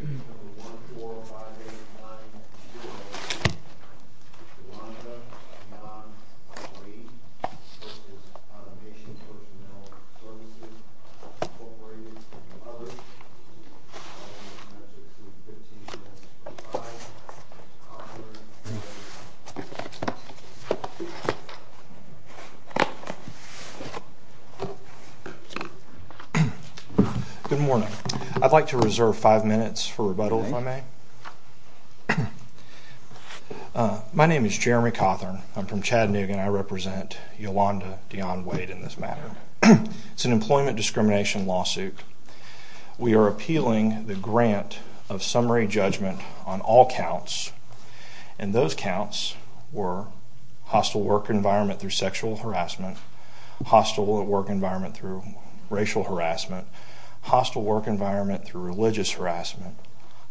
Unit 166 lodges three B., B-Sep., B-Sep., A-P, D-P, X, Yro-IR. Good morning. I'd like to reserve five minutes for rebuttal, if I may. My name is Jeremy Cawthorn. I'm from Chattanooga, and I represent Yolanda Dionne Wade in this matter. It's an employment discrimination lawsuit. We are appealing the grant of summary judgment on all counts, and those counts were hostile work environment through sexual harassment, hostile work environment through racial harassment, hostile work environment through religious harassment,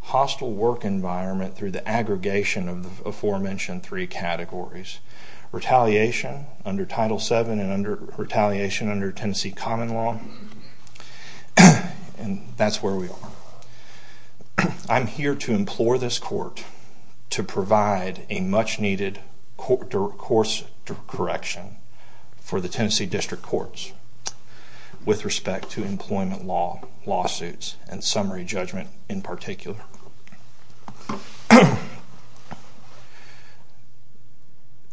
hostile work environment through the aggregation of the aforementioned three categories, retaliation under Title VII and under retaliation under Tennessee common law, and that's where we are. I'm here to implore this court to provide a much-needed course correction for the Tennessee District Courts with respect to employment lawsuits and summary judgment in particular.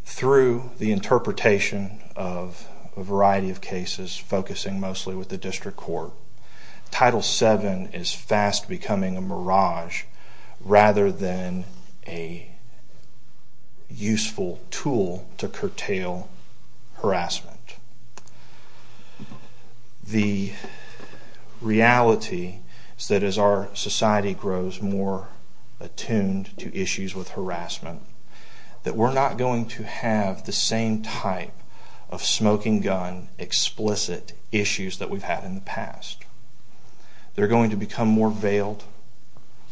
Through the interpretation of a variety of cases focusing mostly with the District Court, Title VII is fast becoming a mirage rather than a useful tool to curtail harassment. The reality is that as our society grows more attuned to issues with harassment, that we're not going to have the same type of smoking gun explicit issues that we've had in the past. They're going to become more veiled,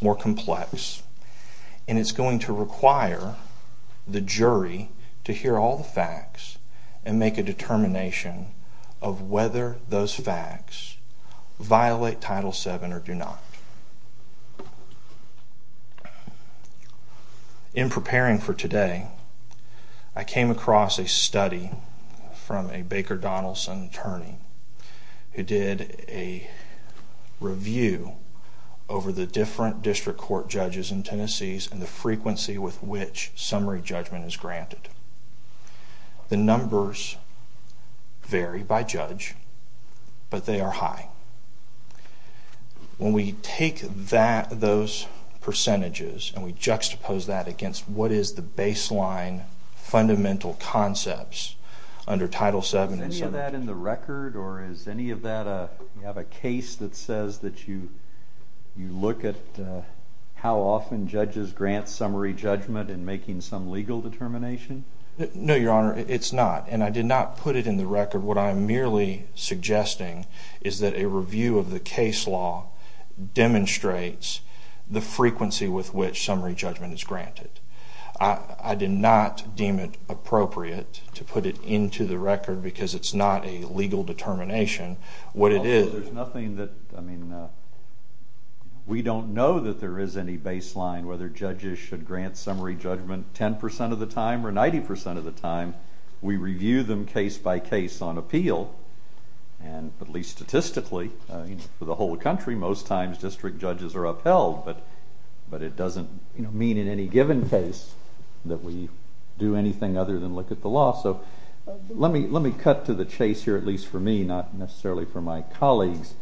more complex, and it's going to require the jury to hear all the facts and make a determination of whether those facts violate Title VII or do not. In preparing for today, I came across a study from a Baker Donaldson attorney who did a review over the different District Court judges in Tennessee's and the frequency with which summary judgment is granted. The numbers vary by judge, but they are high. When we take those percentages and we juxtapose that against what is the baseline fundamental concepts under Title VII... Is any of that in the record, or is any of that a case that says that you look at how often judges grant summary judgment in making some legal determination? No, Your Honor, it's not, and I did not put it in the record. What I'm merely suggesting is that a review of the case law demonstrates the frequency with which summary judgment is granted. I did not deem it appropriate to put it into the record because it's not a legal determination. What it is... There's nothing that... I mean, we don't know that there is any baseline, whether judges should grant summary judgment 10% of the time or 90% of the time. We review them case by case on appeal, and at least statistically, for the whole country, most times district judges are upheld, but it doesn't mean in any given case that we do anything other than look at the law. So let me cut to the chase here, at least for me, not necessarily for my colleagues.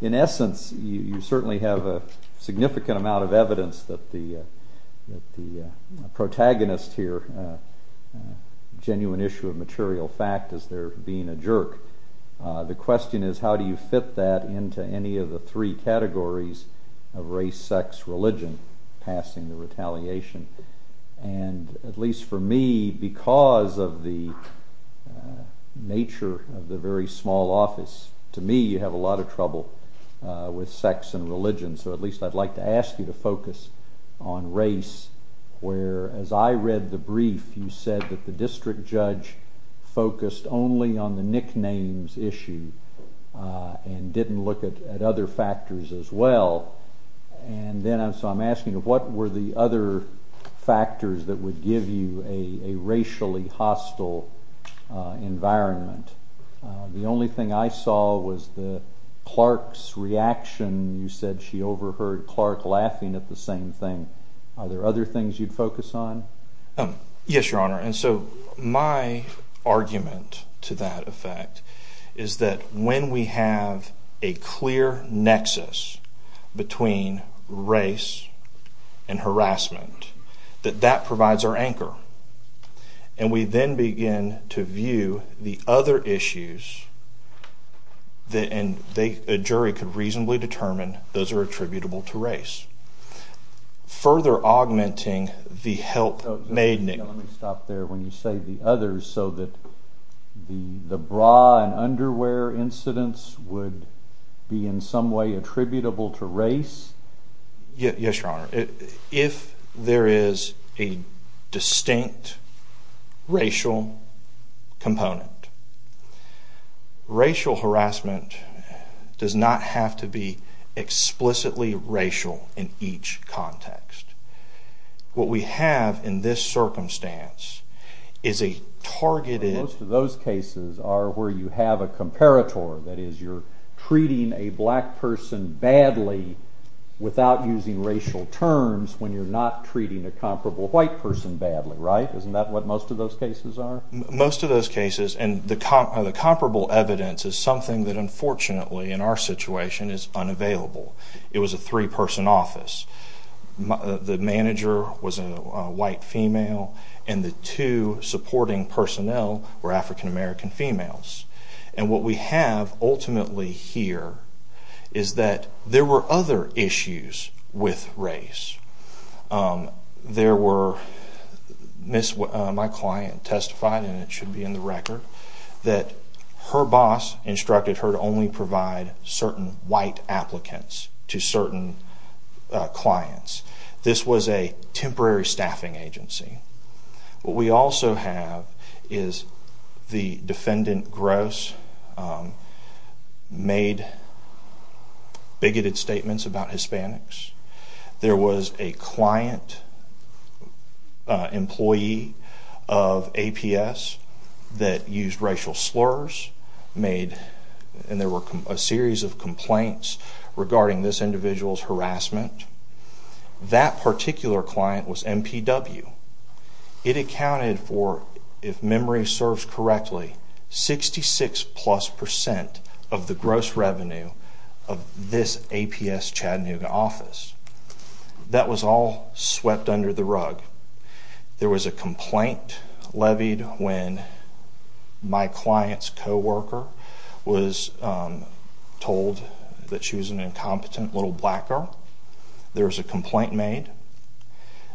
In essence, you certainly have a significant amount of evidence that the protagonist here, a genuine issue of material fact, is there being a jerk. The question is, how do you fit that into any of the three categories of race, sex, religion, passing the retaliation? And at least for me, because of the nature of the very small office, to me, you have a lot of trouble with sex and religion, so at least I'd like to ask you to focus on race, where, as I read the brief, you said that the district judge focused only on the nicknames issue and didn't look at other factors as well. And so I'm asking, what were the other factors that would give you a racially hostile environment? The only thing I saw was Clark's reaction, you said she overheard Clark laughing at the same thing. Are there other things you'd focus on? Yes, Your Honor, and so my argument to that effect is that when we have a clear nexus between race and harassment, that that provides our anchor. And we then begin to view the other issues, and a jury could reasonably determine those are attributable to race. Further augmenting the help made... Let me stop there. When you say the others, so that the bra and underwear incidents would be in some way attributable to race? Yes, Your Honor. If there is a distinct racial component, racial harassment does not have to be explicitly racial in each context. What we have in this circumstance is a targeted... Most of those cases are where you have a comparator. That is, you're treating a black person badly without using racial terms when you're not treating a comparable white person badly, right? Isn't that what most of those cases are? Most of those cases, and the comparable evidence is something that unfortunately in our situation is unavailable. It was a three-person office. The manager was a white female, and the two supporting personnel were African-American females. And what we have ultimately here is that there were other issues with race. There were... My client testified, and it should be in the record, that her boss instructed her to only provide certain white applicants to certain clients. This was a temporary staffing agency. What we also have is the defendant, Gross, made bigoted statements about Hispanics. There was a client employee of APS that used racial slurs, and there were a series of complaints regarding this individual's harassment. That particular client was NPW. It accounted for, if memory serves correctly, 66-plus percent of the gross revenue of this APS Chattanooga office. That was all swept under the rug. There was a complaint levied when my client's coworker was told that she was an incompetent little black girl. There was a complaint made.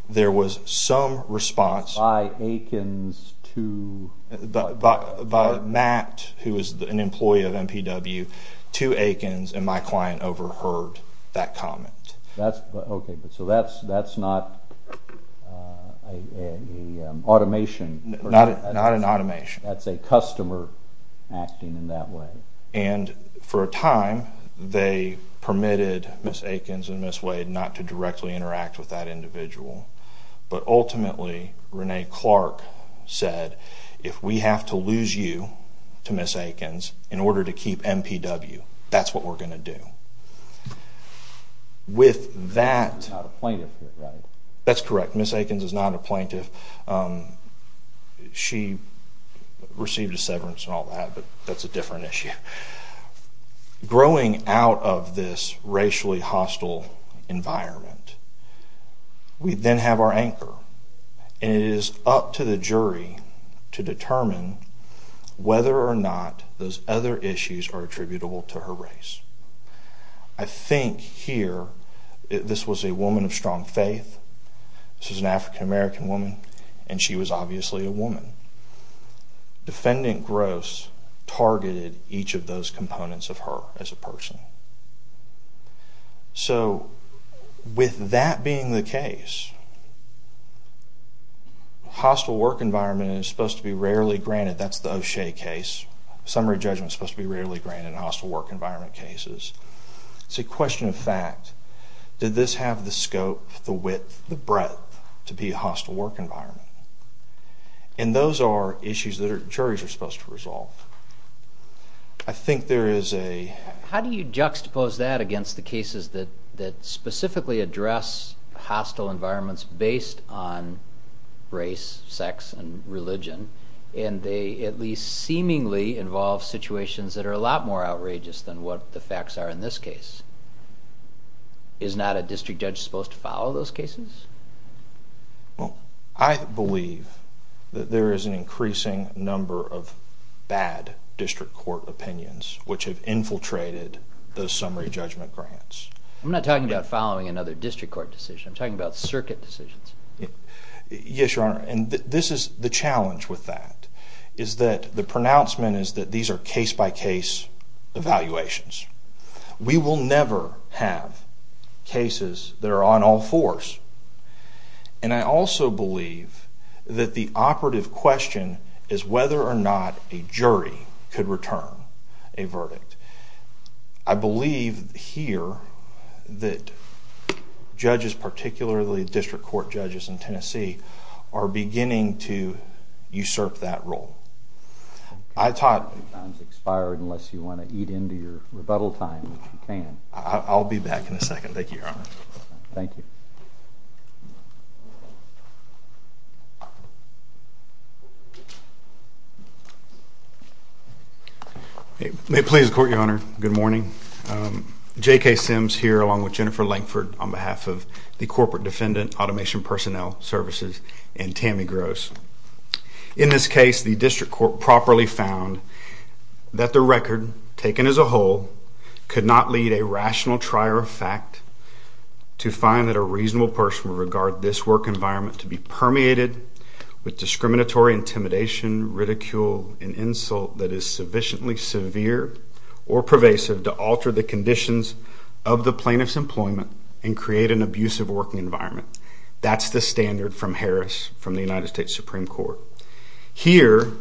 There was some response... By Akins to... By Matt, who was an employee of NPW, to Akins, and my client overheard that comment. That's... Okay, but so that's not an automation... Not an automation. That's a customer acting in that way. For a time, they permitted Ms. Akins and Ms. Wade not to directly interact with that individual. But ultimately, Renee Clark said, if we have to lose you to Ms. Akins in order to keep NPW, that's what we're going to do. With that... She's not a plaintiff, right? That's correct. Ms. Akins is not a plaintiff. She received a severance and all that, but that's a different issue. Growing out of this racially hostile environment, we then have our anchor. And it is up to the jury to determine whether or not those other issues are attributable to her race. I think here, this was a woman of strong faith. This was an African American woman, and she was obviously a woman. Defendant Gross targeted each of those components of her as a person. So, with that being the case, hostile work environment is supposed to be rarely granted. That's the O'Shea case. Summary judgment is supposed to be rarely granted in hostile work environment cases. It's a question of fact. Did this have the scope, the width, the breadth to be a hostile work environment? And those are issues that juries are supposed to resolve. I think there is a... How do you juxtapose that against the cases that specifically address hostile environments based on race, sex, and religion, and they at least seemingly involve situations that are a lot more outrageous than what the facts are in this case? Is not a district judge supposed to follow those cases? Well, I believe that there is an increasing number of bad district court opinions which have infiltrated the summary judgment grants. I'm not talking about following another district court decision. I'm talking about circuit decisions. Yes, Your Honor, and this is the challenge with that, is that the pronouncement is that these are case-by-case evaluations. We will never have cases that are on all fours. And I also believe that the operative question is whether or not a jury could return a verdict. I believe here that judges, particularly district court judges in Tennessee, are beginning to usurp that role. I thought... Your time has expired unless you want to eat into your rebuttal time if you can. I'll be back in a second. Thank you, Your Honor. Thank you. May it please the Court, Your Honor. Good morning. J.K. Sims here along with Jennifer Langford on behalf of the Corporate Defendant Automation Personnel Services and Tammy Gross. In this case, the district court properly found that the record, taken as a whole, could not lead a rational trier of fact to find that a reasonable person would regard this work environment to be permeated with discriminatory intimidation, ridicule, and insult that is sufficiently severe or pervasive to alter the conditions of the plaintiff's employment and create an abusive working environment. That's the standard from Harris, from the United States Supreme Court. Here,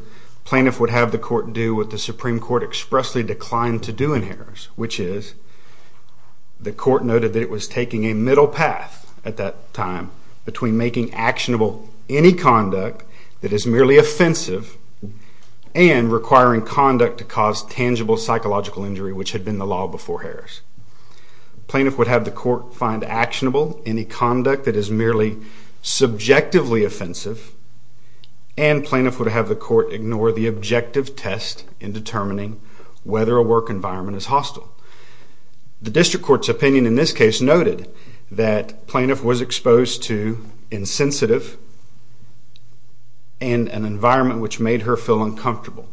plaintiff would have the court do what the Supreme Court expressly declined to do in Harris, which is the court noted that it was taking a middle path at that time between making actionable any conduct that is merely offensive and requiring conduct to cause tangible psychological injury, which had been the law before Harris. Plaintiff would have the court find actionable any conduct that is merely subjectively offensive and plaintiff would have the court ignore the objective test in determining whether a work environment is hostile. The district court's opinion in this case noted that plaintiff was exposed to insensitive and an environment which made her feel uncomfortable,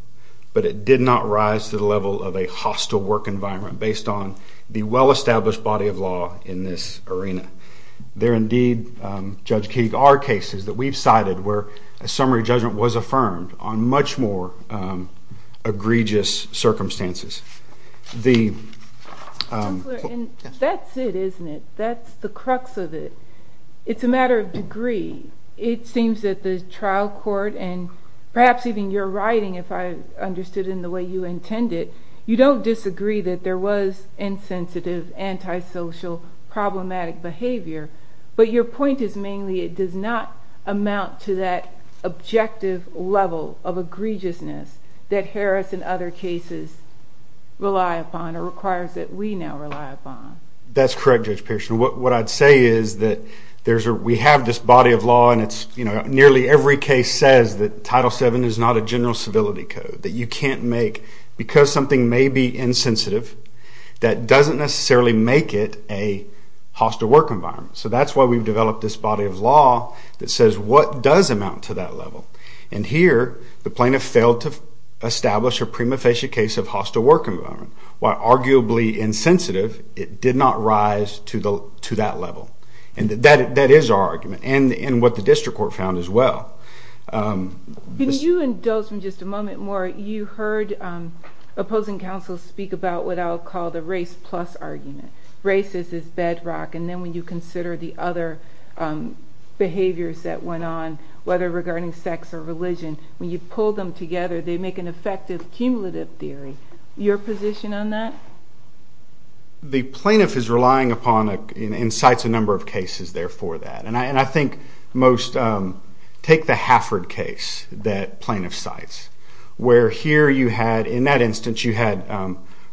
but it did not rise to the level of a hostile work environment based on the well-established body of law in this arena. There indeed, Judge Keeg, are cases that we've cited where a summary judgment was affirmed on much more egregious circumstances. The... And that's it, isn't it? That's the crux of it. It's a matter of degree. It seems that the trial court, and perhaps even your writing, if I understood it in the way you intended, you don't disagree that there was insensitive, antisocial, problematic behavior, but your point is mainly it does not amount to that objective level of egregiousness that Harris and other cases rely upon or requires that we now rely upon. That's correct, Judge Pearson. What I'd say is that we have this body of law and nearly every case says that Title VII is not a general civility code, that you can't make... Because something may be insensitive, that doesn't necessarily make it a hostile work environment. So that's why we've developed this body of law that says what does amount to that level? And here, the plaintiff failed to establish a prima facie case of hostile work environment. While arguably insensitive, it did not rise to that level. And that is our argument, and what the district court found as well. Can you indulge me just a moment more? You heard opposing counsel speak about what I'll call the race-plus argument. Race is this bedrock, and then when you consider the other behaviors that went on, whether regarding sex or religion, when you pull them together, they make an effective cumulative theory. Your position on that? The plaintiff is relying upon... and cites a number of cases there for that. And I think most... Take the Hafford case that plaintiff cites, where here you had, in that instance, you had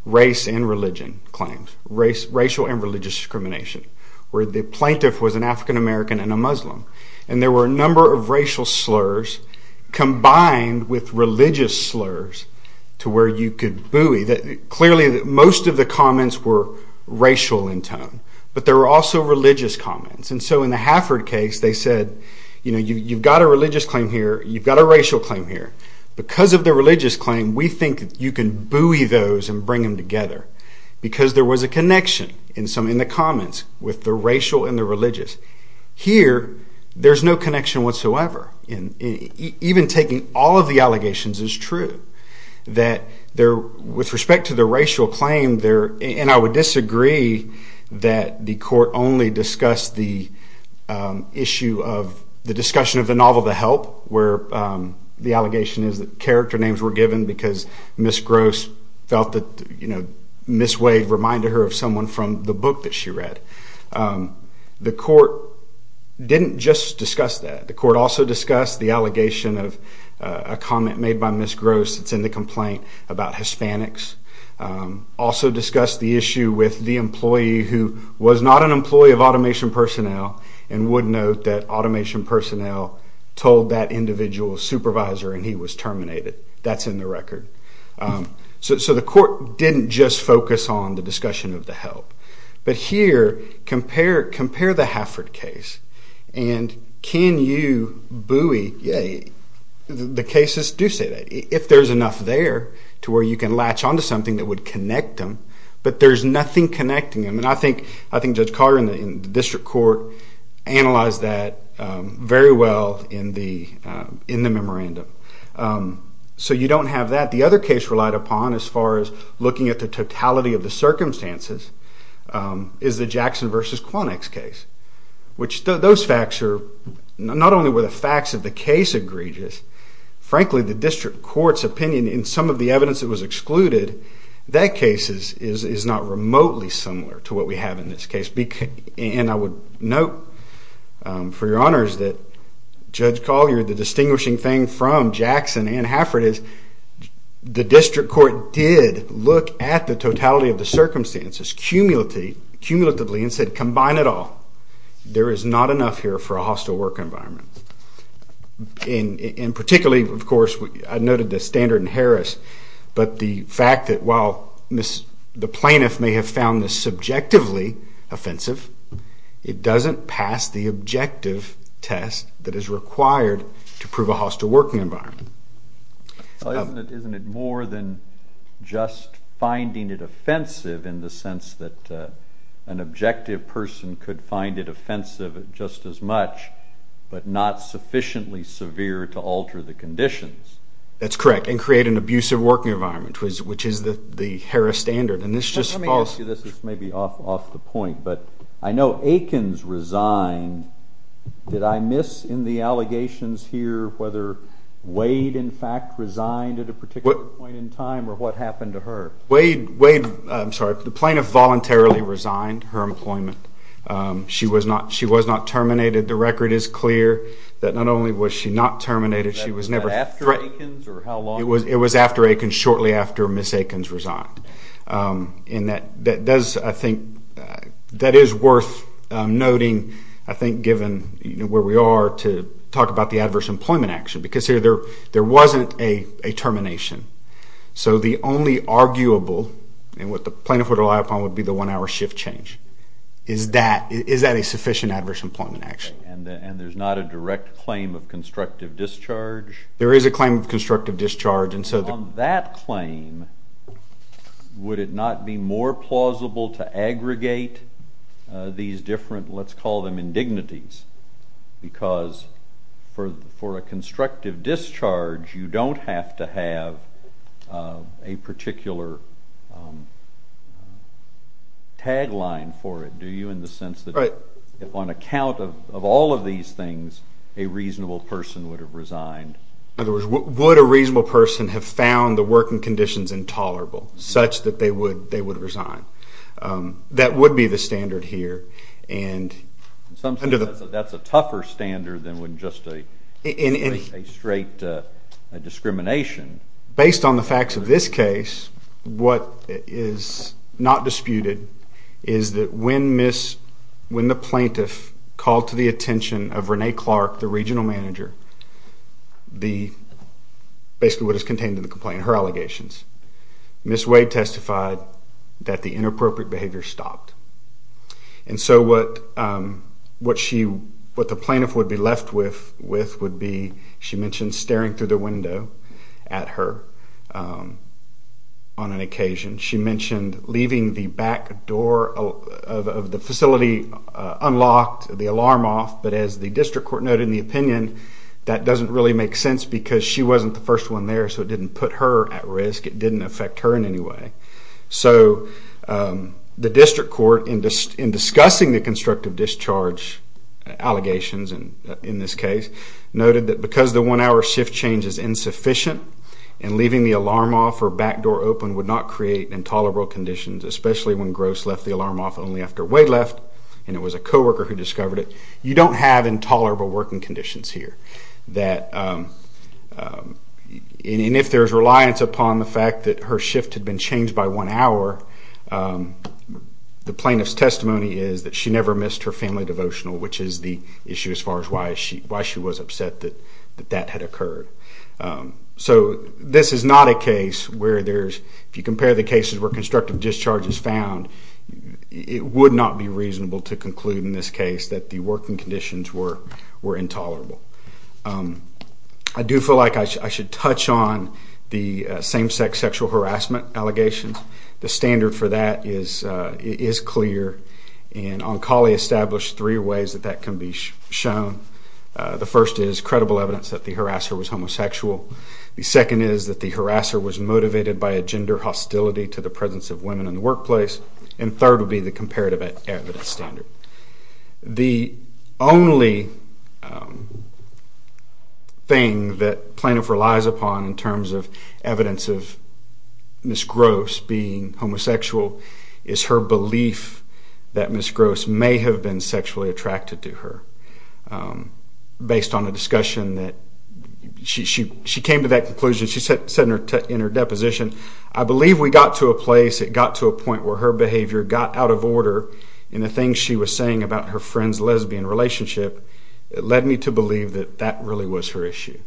race and religion claims, racial and religious discrimination, where the plaintiff was an African-American and a Muslim. And there were a number of racial slurs combined with religious slurs to where you could buoy... Clearly, most of the comments were racial in tone, but there were also religious comments. And so in the Hafford case, they said, you've got a religious claim here, you've got a racial claim here. Because of the religious claim, we think you can buoy those and bring them together. Because there was a connection in the comments with the racial and the religious. Here, there's no connection whatsoever. Even taking all of the allegations is true. With respect to the racial claim, and I would disagree that the court only discussed the issue of the discussion of the novel The Help, where the allegation is that character names were given because Ms. Gross felt that Ms. Wade reminded her of someone from the book that she read. The court didn't just discuss that. The court also discussed the allegation of a comment made by Ms. Gross that's in the complaint about Hispanics. Also discussed the issue with the employee who was not an employee of Automation Personnel and would note that Automation Personnel told that individual's supervisor and he was terminated. That's in the record. So the court didn't just focus on the discussion of The Help. But here, compare the Hafford case, and can you buoy the cases? Do say that. If there's enough there to where you can latch on to something that would connect them, but there's nothing connecting them. And I think Judge Carter and the district court analyzed that very well in the memorandum. So you don't have that. The other case relied upon as far as looking at the totality of the circumstances is the Jackson v. Quonex case. Those facts are not only were the facts of the case egregious, frankly the district court's opinion in some of the evidence that was excluded, that case is not remotely similar to what we have in this case. And I would note for your honors that Judge Collier, the distinguishing thing from Jackson and Hafford is the district court did look at the totality of the circumstances, cumulatively, and said combine it all. There is not enough here for a hostile work environment. And particularly, of course, I noted the standard in Harris, but the fact that while the plaintiff may have found this subjectively offensive, it doesn't pass the objective test that is required to prove a hostile working environment. Isn't it more than just finding it offensive in the sense that an objective person could find it offensive just as much, but not sufficiently severe to alter the conditions? That's correct. And create an abusive working environment, which is the Harris standard. Let me ask you this, this may be off the point, but I know Aikens resigned. Did I miss in the allegations here whether Wade, in fact, resigned at a particular point in time or what happened to her? Wade, I'm sorry, the plaintiff voluntarily resigned her employment. She was not terminated. The record is clear that not only was she not terminated, she was never threatened. After Aikens or how long? It was after Aikens, shortly after Ms. Aikens resigned. And that does, I think, that is worth noting, I think given where we are, to talk about the adverse employment action because here there wasn't a termination. So the only arguable, and what the plaintiff would rely upon, would be the one-hour shift change. Is that a sufficient adverse employment action? And there's not a direct claim of constructive discharge? There is a claim of constructive discharge. On that claim, would it not be more plausible to aggregate these different, let's call them indignities, because for a constructive discharge you don't have to have a particular tagline for it, do you, in the sense that on account of all of these things a reasonable person would have resigned? In other words, would a reasonable person have found the working conditions intolerable such that they would resign? That would be the standard here. In some sense that's a tougher standard than just a straight discrimination. Based on the facts of this case, what is not disputed is that when the plaintiff called to the attention of Renee Clark, the regional manager, basically what is contained in the complaint, her allegations, Ms. Wade testified that the inappropriate behavior stopped. And so what the plaintiff would be left with she mentioned staring through the window at her on an occasion. She mentioned leaving the back door of the facility unlocked, the alarm off, but as the district court noted in the opinion that doesn't really make sense because she wasn't the first one there so it didn't put her at risk. It didn't affect her in any way. So the district court, in discussing the constructive discharge allegations in this case, noted that because the one-hour shift change is insufficient and leaving the alarm off or back door open would not create intolerable conditions, especially when Gross left the alarm off only after Wade left and it was a co-worker who discovered it, you don't have intolerable working conditions here. And if there's reliance upon the fact that her shift had been changed by one hour, the plaintiff's testimony is that she never missed her family devotional, which is the issue as far as why she was upset that that had occurred. So this is not a case where there's, if you compare the cases where constructive discharge is found, it would not be reasonable to conclude in this case that the working conditions were intolerable. I do feel like I should touch on the same-sex sexual harassment allegations. The standard for that is clear, and Oncoli established three ways that that can be shown. The first is credible evidence that the harasser was homosexual. The second is that the harasser was motivated by a gender hostility to the presence of women in the workplace. And third would be the comparative evidence standard. The only thing that plaintiff relies upon in terms of evidence of Ms. Gross being homosexual is her belief that Ms. Gross may have been sexually attracted to her, based on a discussion that she came to that conclusion. She said in her deposition, I believe we got to a place, it got to a point, where her behavior got out of order in the things she was saying about her friend's lesbian relationship. It led me to believe that that really was her issue.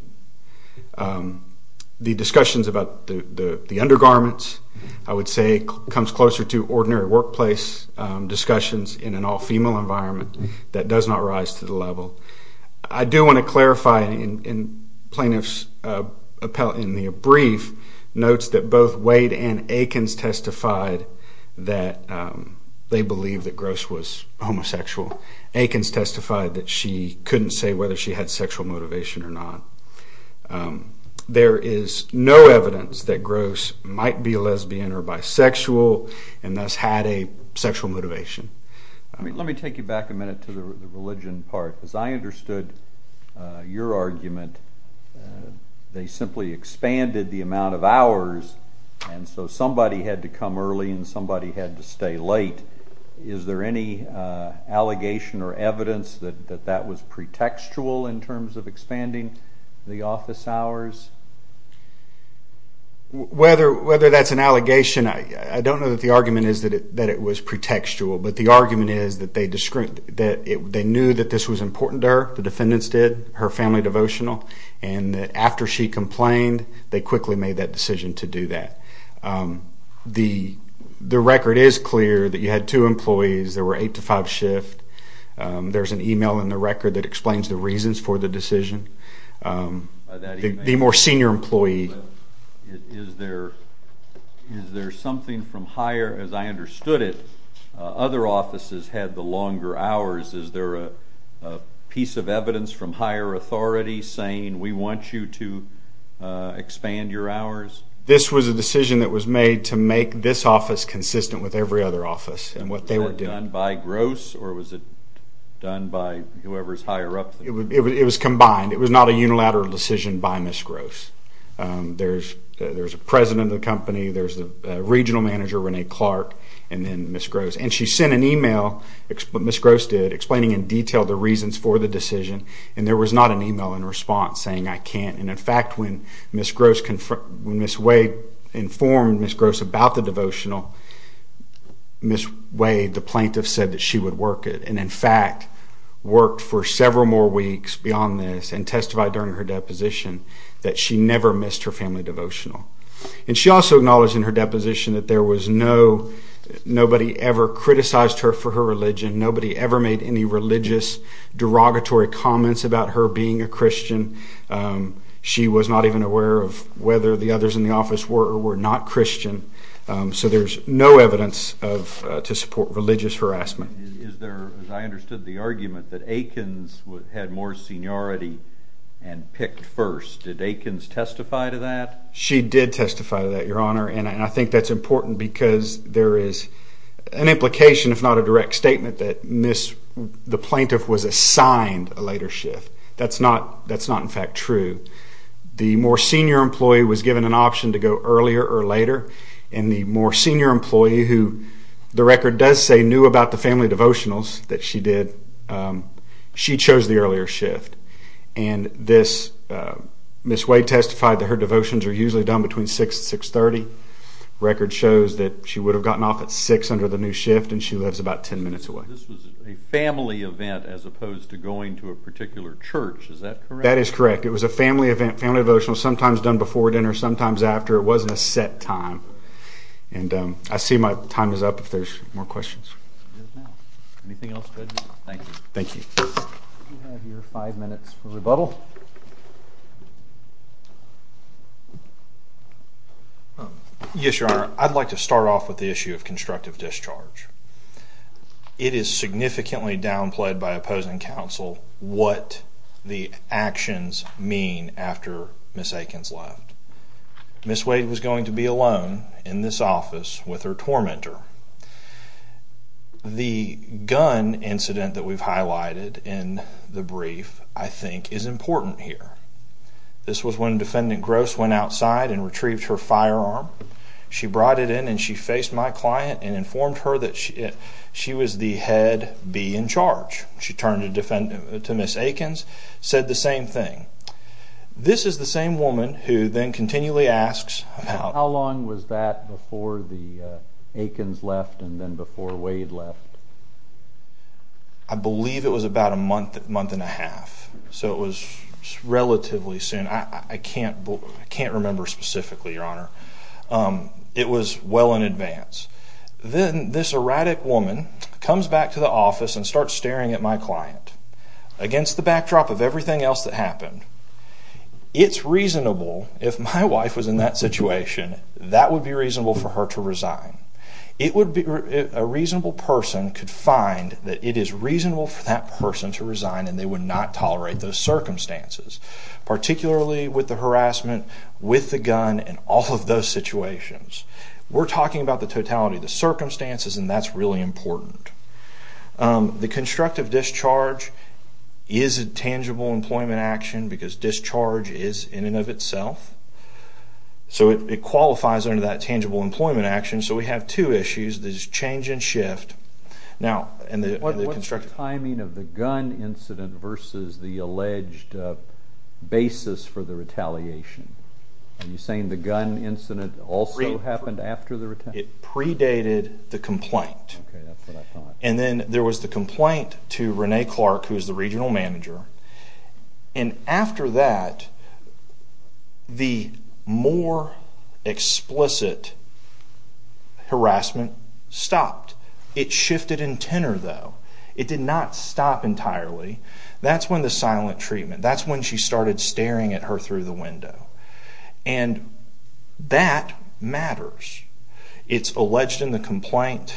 The discussions about the undergarments, I would say, comes closer to ordinary workplace discussions in an all-female environment that does not rise to the level. I do want to clarify, and plaintiffs appellate in their brief notes that both Wade and Eakins testified that they believed that Gross was homosexual. Eakins testified that she couldn't say whether she had sexual motivation or not. There is no evidence that Gross might be a lesbian or bisexual and thus had a sexual motivation. Let me take you back a minute to the religion part. As I understood your argument, they simply expanded the amount of hours, and so somebody had to come early and somebody had to stay late. Is there any allegation or evidence that that was pretextual in terms of expanding the office hours? Whether that's an allegation, I don't know that the argument is that it was pretextual, but the argument is that they knew that this was important to her, the defendants did, her family devotional, and that after she complained, they quickly made that decision to do that. The record is clear that you had two employees. There were eight to five shifts. There's an email in the record that explains the reasons for the decision. The more senior employee. Is there something from higher, as I understood it, other offices had the longer hours. Is there a piece of evidence from higher authority saying we want you to expand your hours? This was a decision that was made to make this office consistent with every other office and what they were doing. Was that done by Gross or was it done by whoever's higher up? It was combined. It was not a unilateral decision by Ms. Gross. There's a president of the company, there's the regional manager, Renee Clark, and then Ms. Gross. And she sent an email, Ms. Gross did, explaining in detail the reasons for the decision, and there was not an email in response saying I can't. In fact, when Ms. Way informed Ms. Gross about the devotional, Ms. Way, the plaintiff, said that she would work it, and in fact worked for several more weeks beyond this and testified during her deposition that she never missed her family devotional. And she also acknowledged in her deposition that nobody ever criticized her for her religion, nobody ever made any religious derogatory comments about her being a Christian. She was not even aware of whether the others in the office were or were not Christian. So there's no evidence to support religious harassment. Is there, as I understood the argument, that Aikens had more seniority and picked first? Did Aikens testify to that? She did testify to that, Your Honor, and I think that's important because there is an implication, if not a direct statement, that the plaintiff was assigned a later shift. That's not in fact true. The more senior employee was given an option to go earlier or later, and the more senior employee, who the record does say knew about the family devotionals that she did, she chose the earlier shift. And Ms. Way testified that her devotions are usually done between 6 and 6.30. The record shows that she would have gotten off at 6 under the new shift, and she lives about 10 minutes away. This was a family event as opposed to going to a particular church. Is that correct? That is correct. It was a family event, family devotional, sometimes done before dinner, sometimes after. It wasn't a set time. And I see my time is up if there's more questions. Anything else, Judge? Thank you. Thank you. You have your five minutes for rebuttal. Yes, Your Honor. I'd like to start off with the issue of constructive discharge. It is significantly downplayed by opposing counsel what the actions mean after Ms. Aikens left. Ms. Wade was going to be alone in this office with her tormentor. The gun incident that we've highlighted in the brief, I think, is important here. This was when Defendant Gross went outside and retrieved her firearm. She brought it in and she faced my client and informed her that she was the head bee in charge. She turned to Ms. Aikens, said the same thing. This is the same woman who then continually asks about How long was that before the Aikens left and then before Wade left? I believe it was about a month, month and a half. So it was relatively soon. I can't remember specifically, Your Honor. It was well in advance. Then this erratic woman comes back to the office and starts staring at my client. Against the backdrop of everything else that happened, it's reasonable, if my wife was in that situation, that would be reasonable for her to resign. A reasonable person could find that it is reasonable for that person to resign and they would not tolerate those circumstances, particularly with the harassment with the gun and all of those situations. We're talking about the totality of the circumstances and that's really important. The constructive discharge is a tangible employment action because discharge is in and of itself. So it qualifies under that tangible employment action. So we have two issues. There's change and shift. What's the timing of the gun incident versus the alleged basis for the retaliation? Are you saying the gun incident also happened after the retaliation? It predated the complaint. Okay, that's what I thought. And then there was the complaint to Renee Clark, who is the regional manager. And after that, the more explicit harassment stopped. It shifted in tenor, though. It did not stop entirely. That's when the silent treatment, that's when she started staring at her through the window. And that matters. It's alleged in the complaint.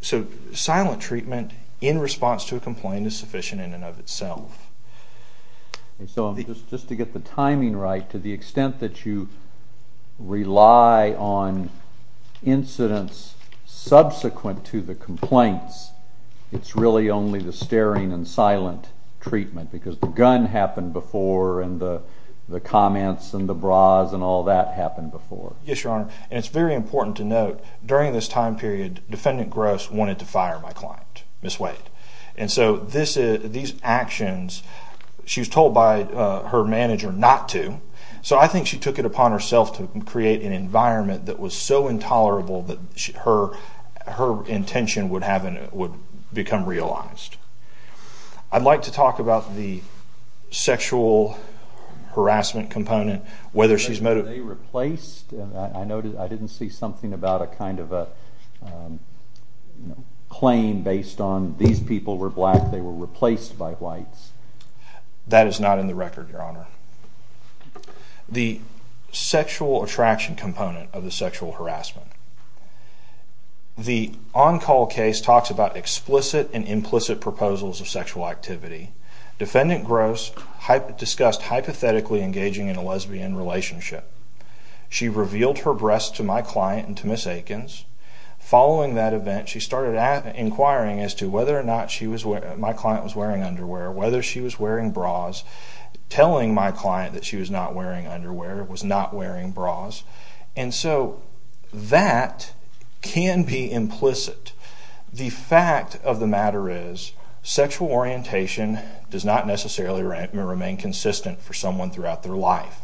So silent treatment in response to a complaint is sufficient in and of itself. So just to get the timing right, to the extent that you rely on incidents subsequent to the complaints, it's really only the staring and silent treatment because the gun happened before and the comments and the bras and all that happened before. Yes, Your Honor. And it's very important to note, during this time period, Defendant Gross wanted to fire my client, Ms. Wade. And so these actions, she was told by her manager not to. So I think she took it upon herself to create an environment that was so intolerable that her intention would become realized. I'd like to talk about the sexual harassment component, whether she's motive. Were they replaced? I noticed I didn't see something about a kind of a claim based on these people were black, they were replaced by whites. That is not in the record, Your Honor. The sexual attraction component of the sexual harassment. The on-call case talks about explicit and implicit proposals of sexual activity. Defendant Gross discussed hypothetically engaging in a lesbian relationship. She revealed her breasts to my client and to Ms. Aikens. Following that event, she started inquiring as to whether or not my client was wearing underwear, whether she was wearing bras, telling my client that she was not wearing underwear, was not wearing bras. And so that can be implicit. The fact of the matter is sexual orientation does not necessarily remain consistent for someone throughout their life.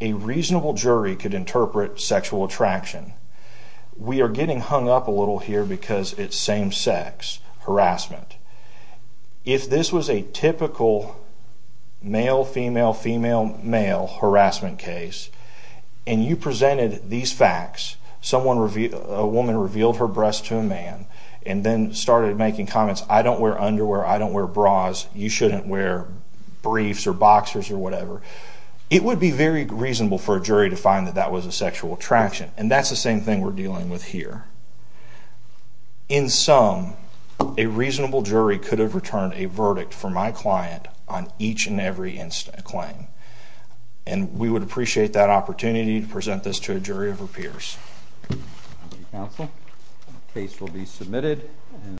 A reasonable jury could interpret sexual attraction. We are getting hung up a little here because it's same-sex harassment. If this was a typical male, female, female, male harassment case and you presented these facts, a woman revealed her breasts to a man and then started making comments, I don't wear underwear, I don't wear bras, you shouldn't wear briefs or boxers or whatever, it would be very reasonable for a jury to find that that was a sexual attraction. And that's the same thing we're dealing with here. In sum, a reasonable jury could have returned a verdict for my client on each and every claim. And we would appreciate that opportunity to present this to a jury of our peers. Thank you, counsel. The case will be submitted.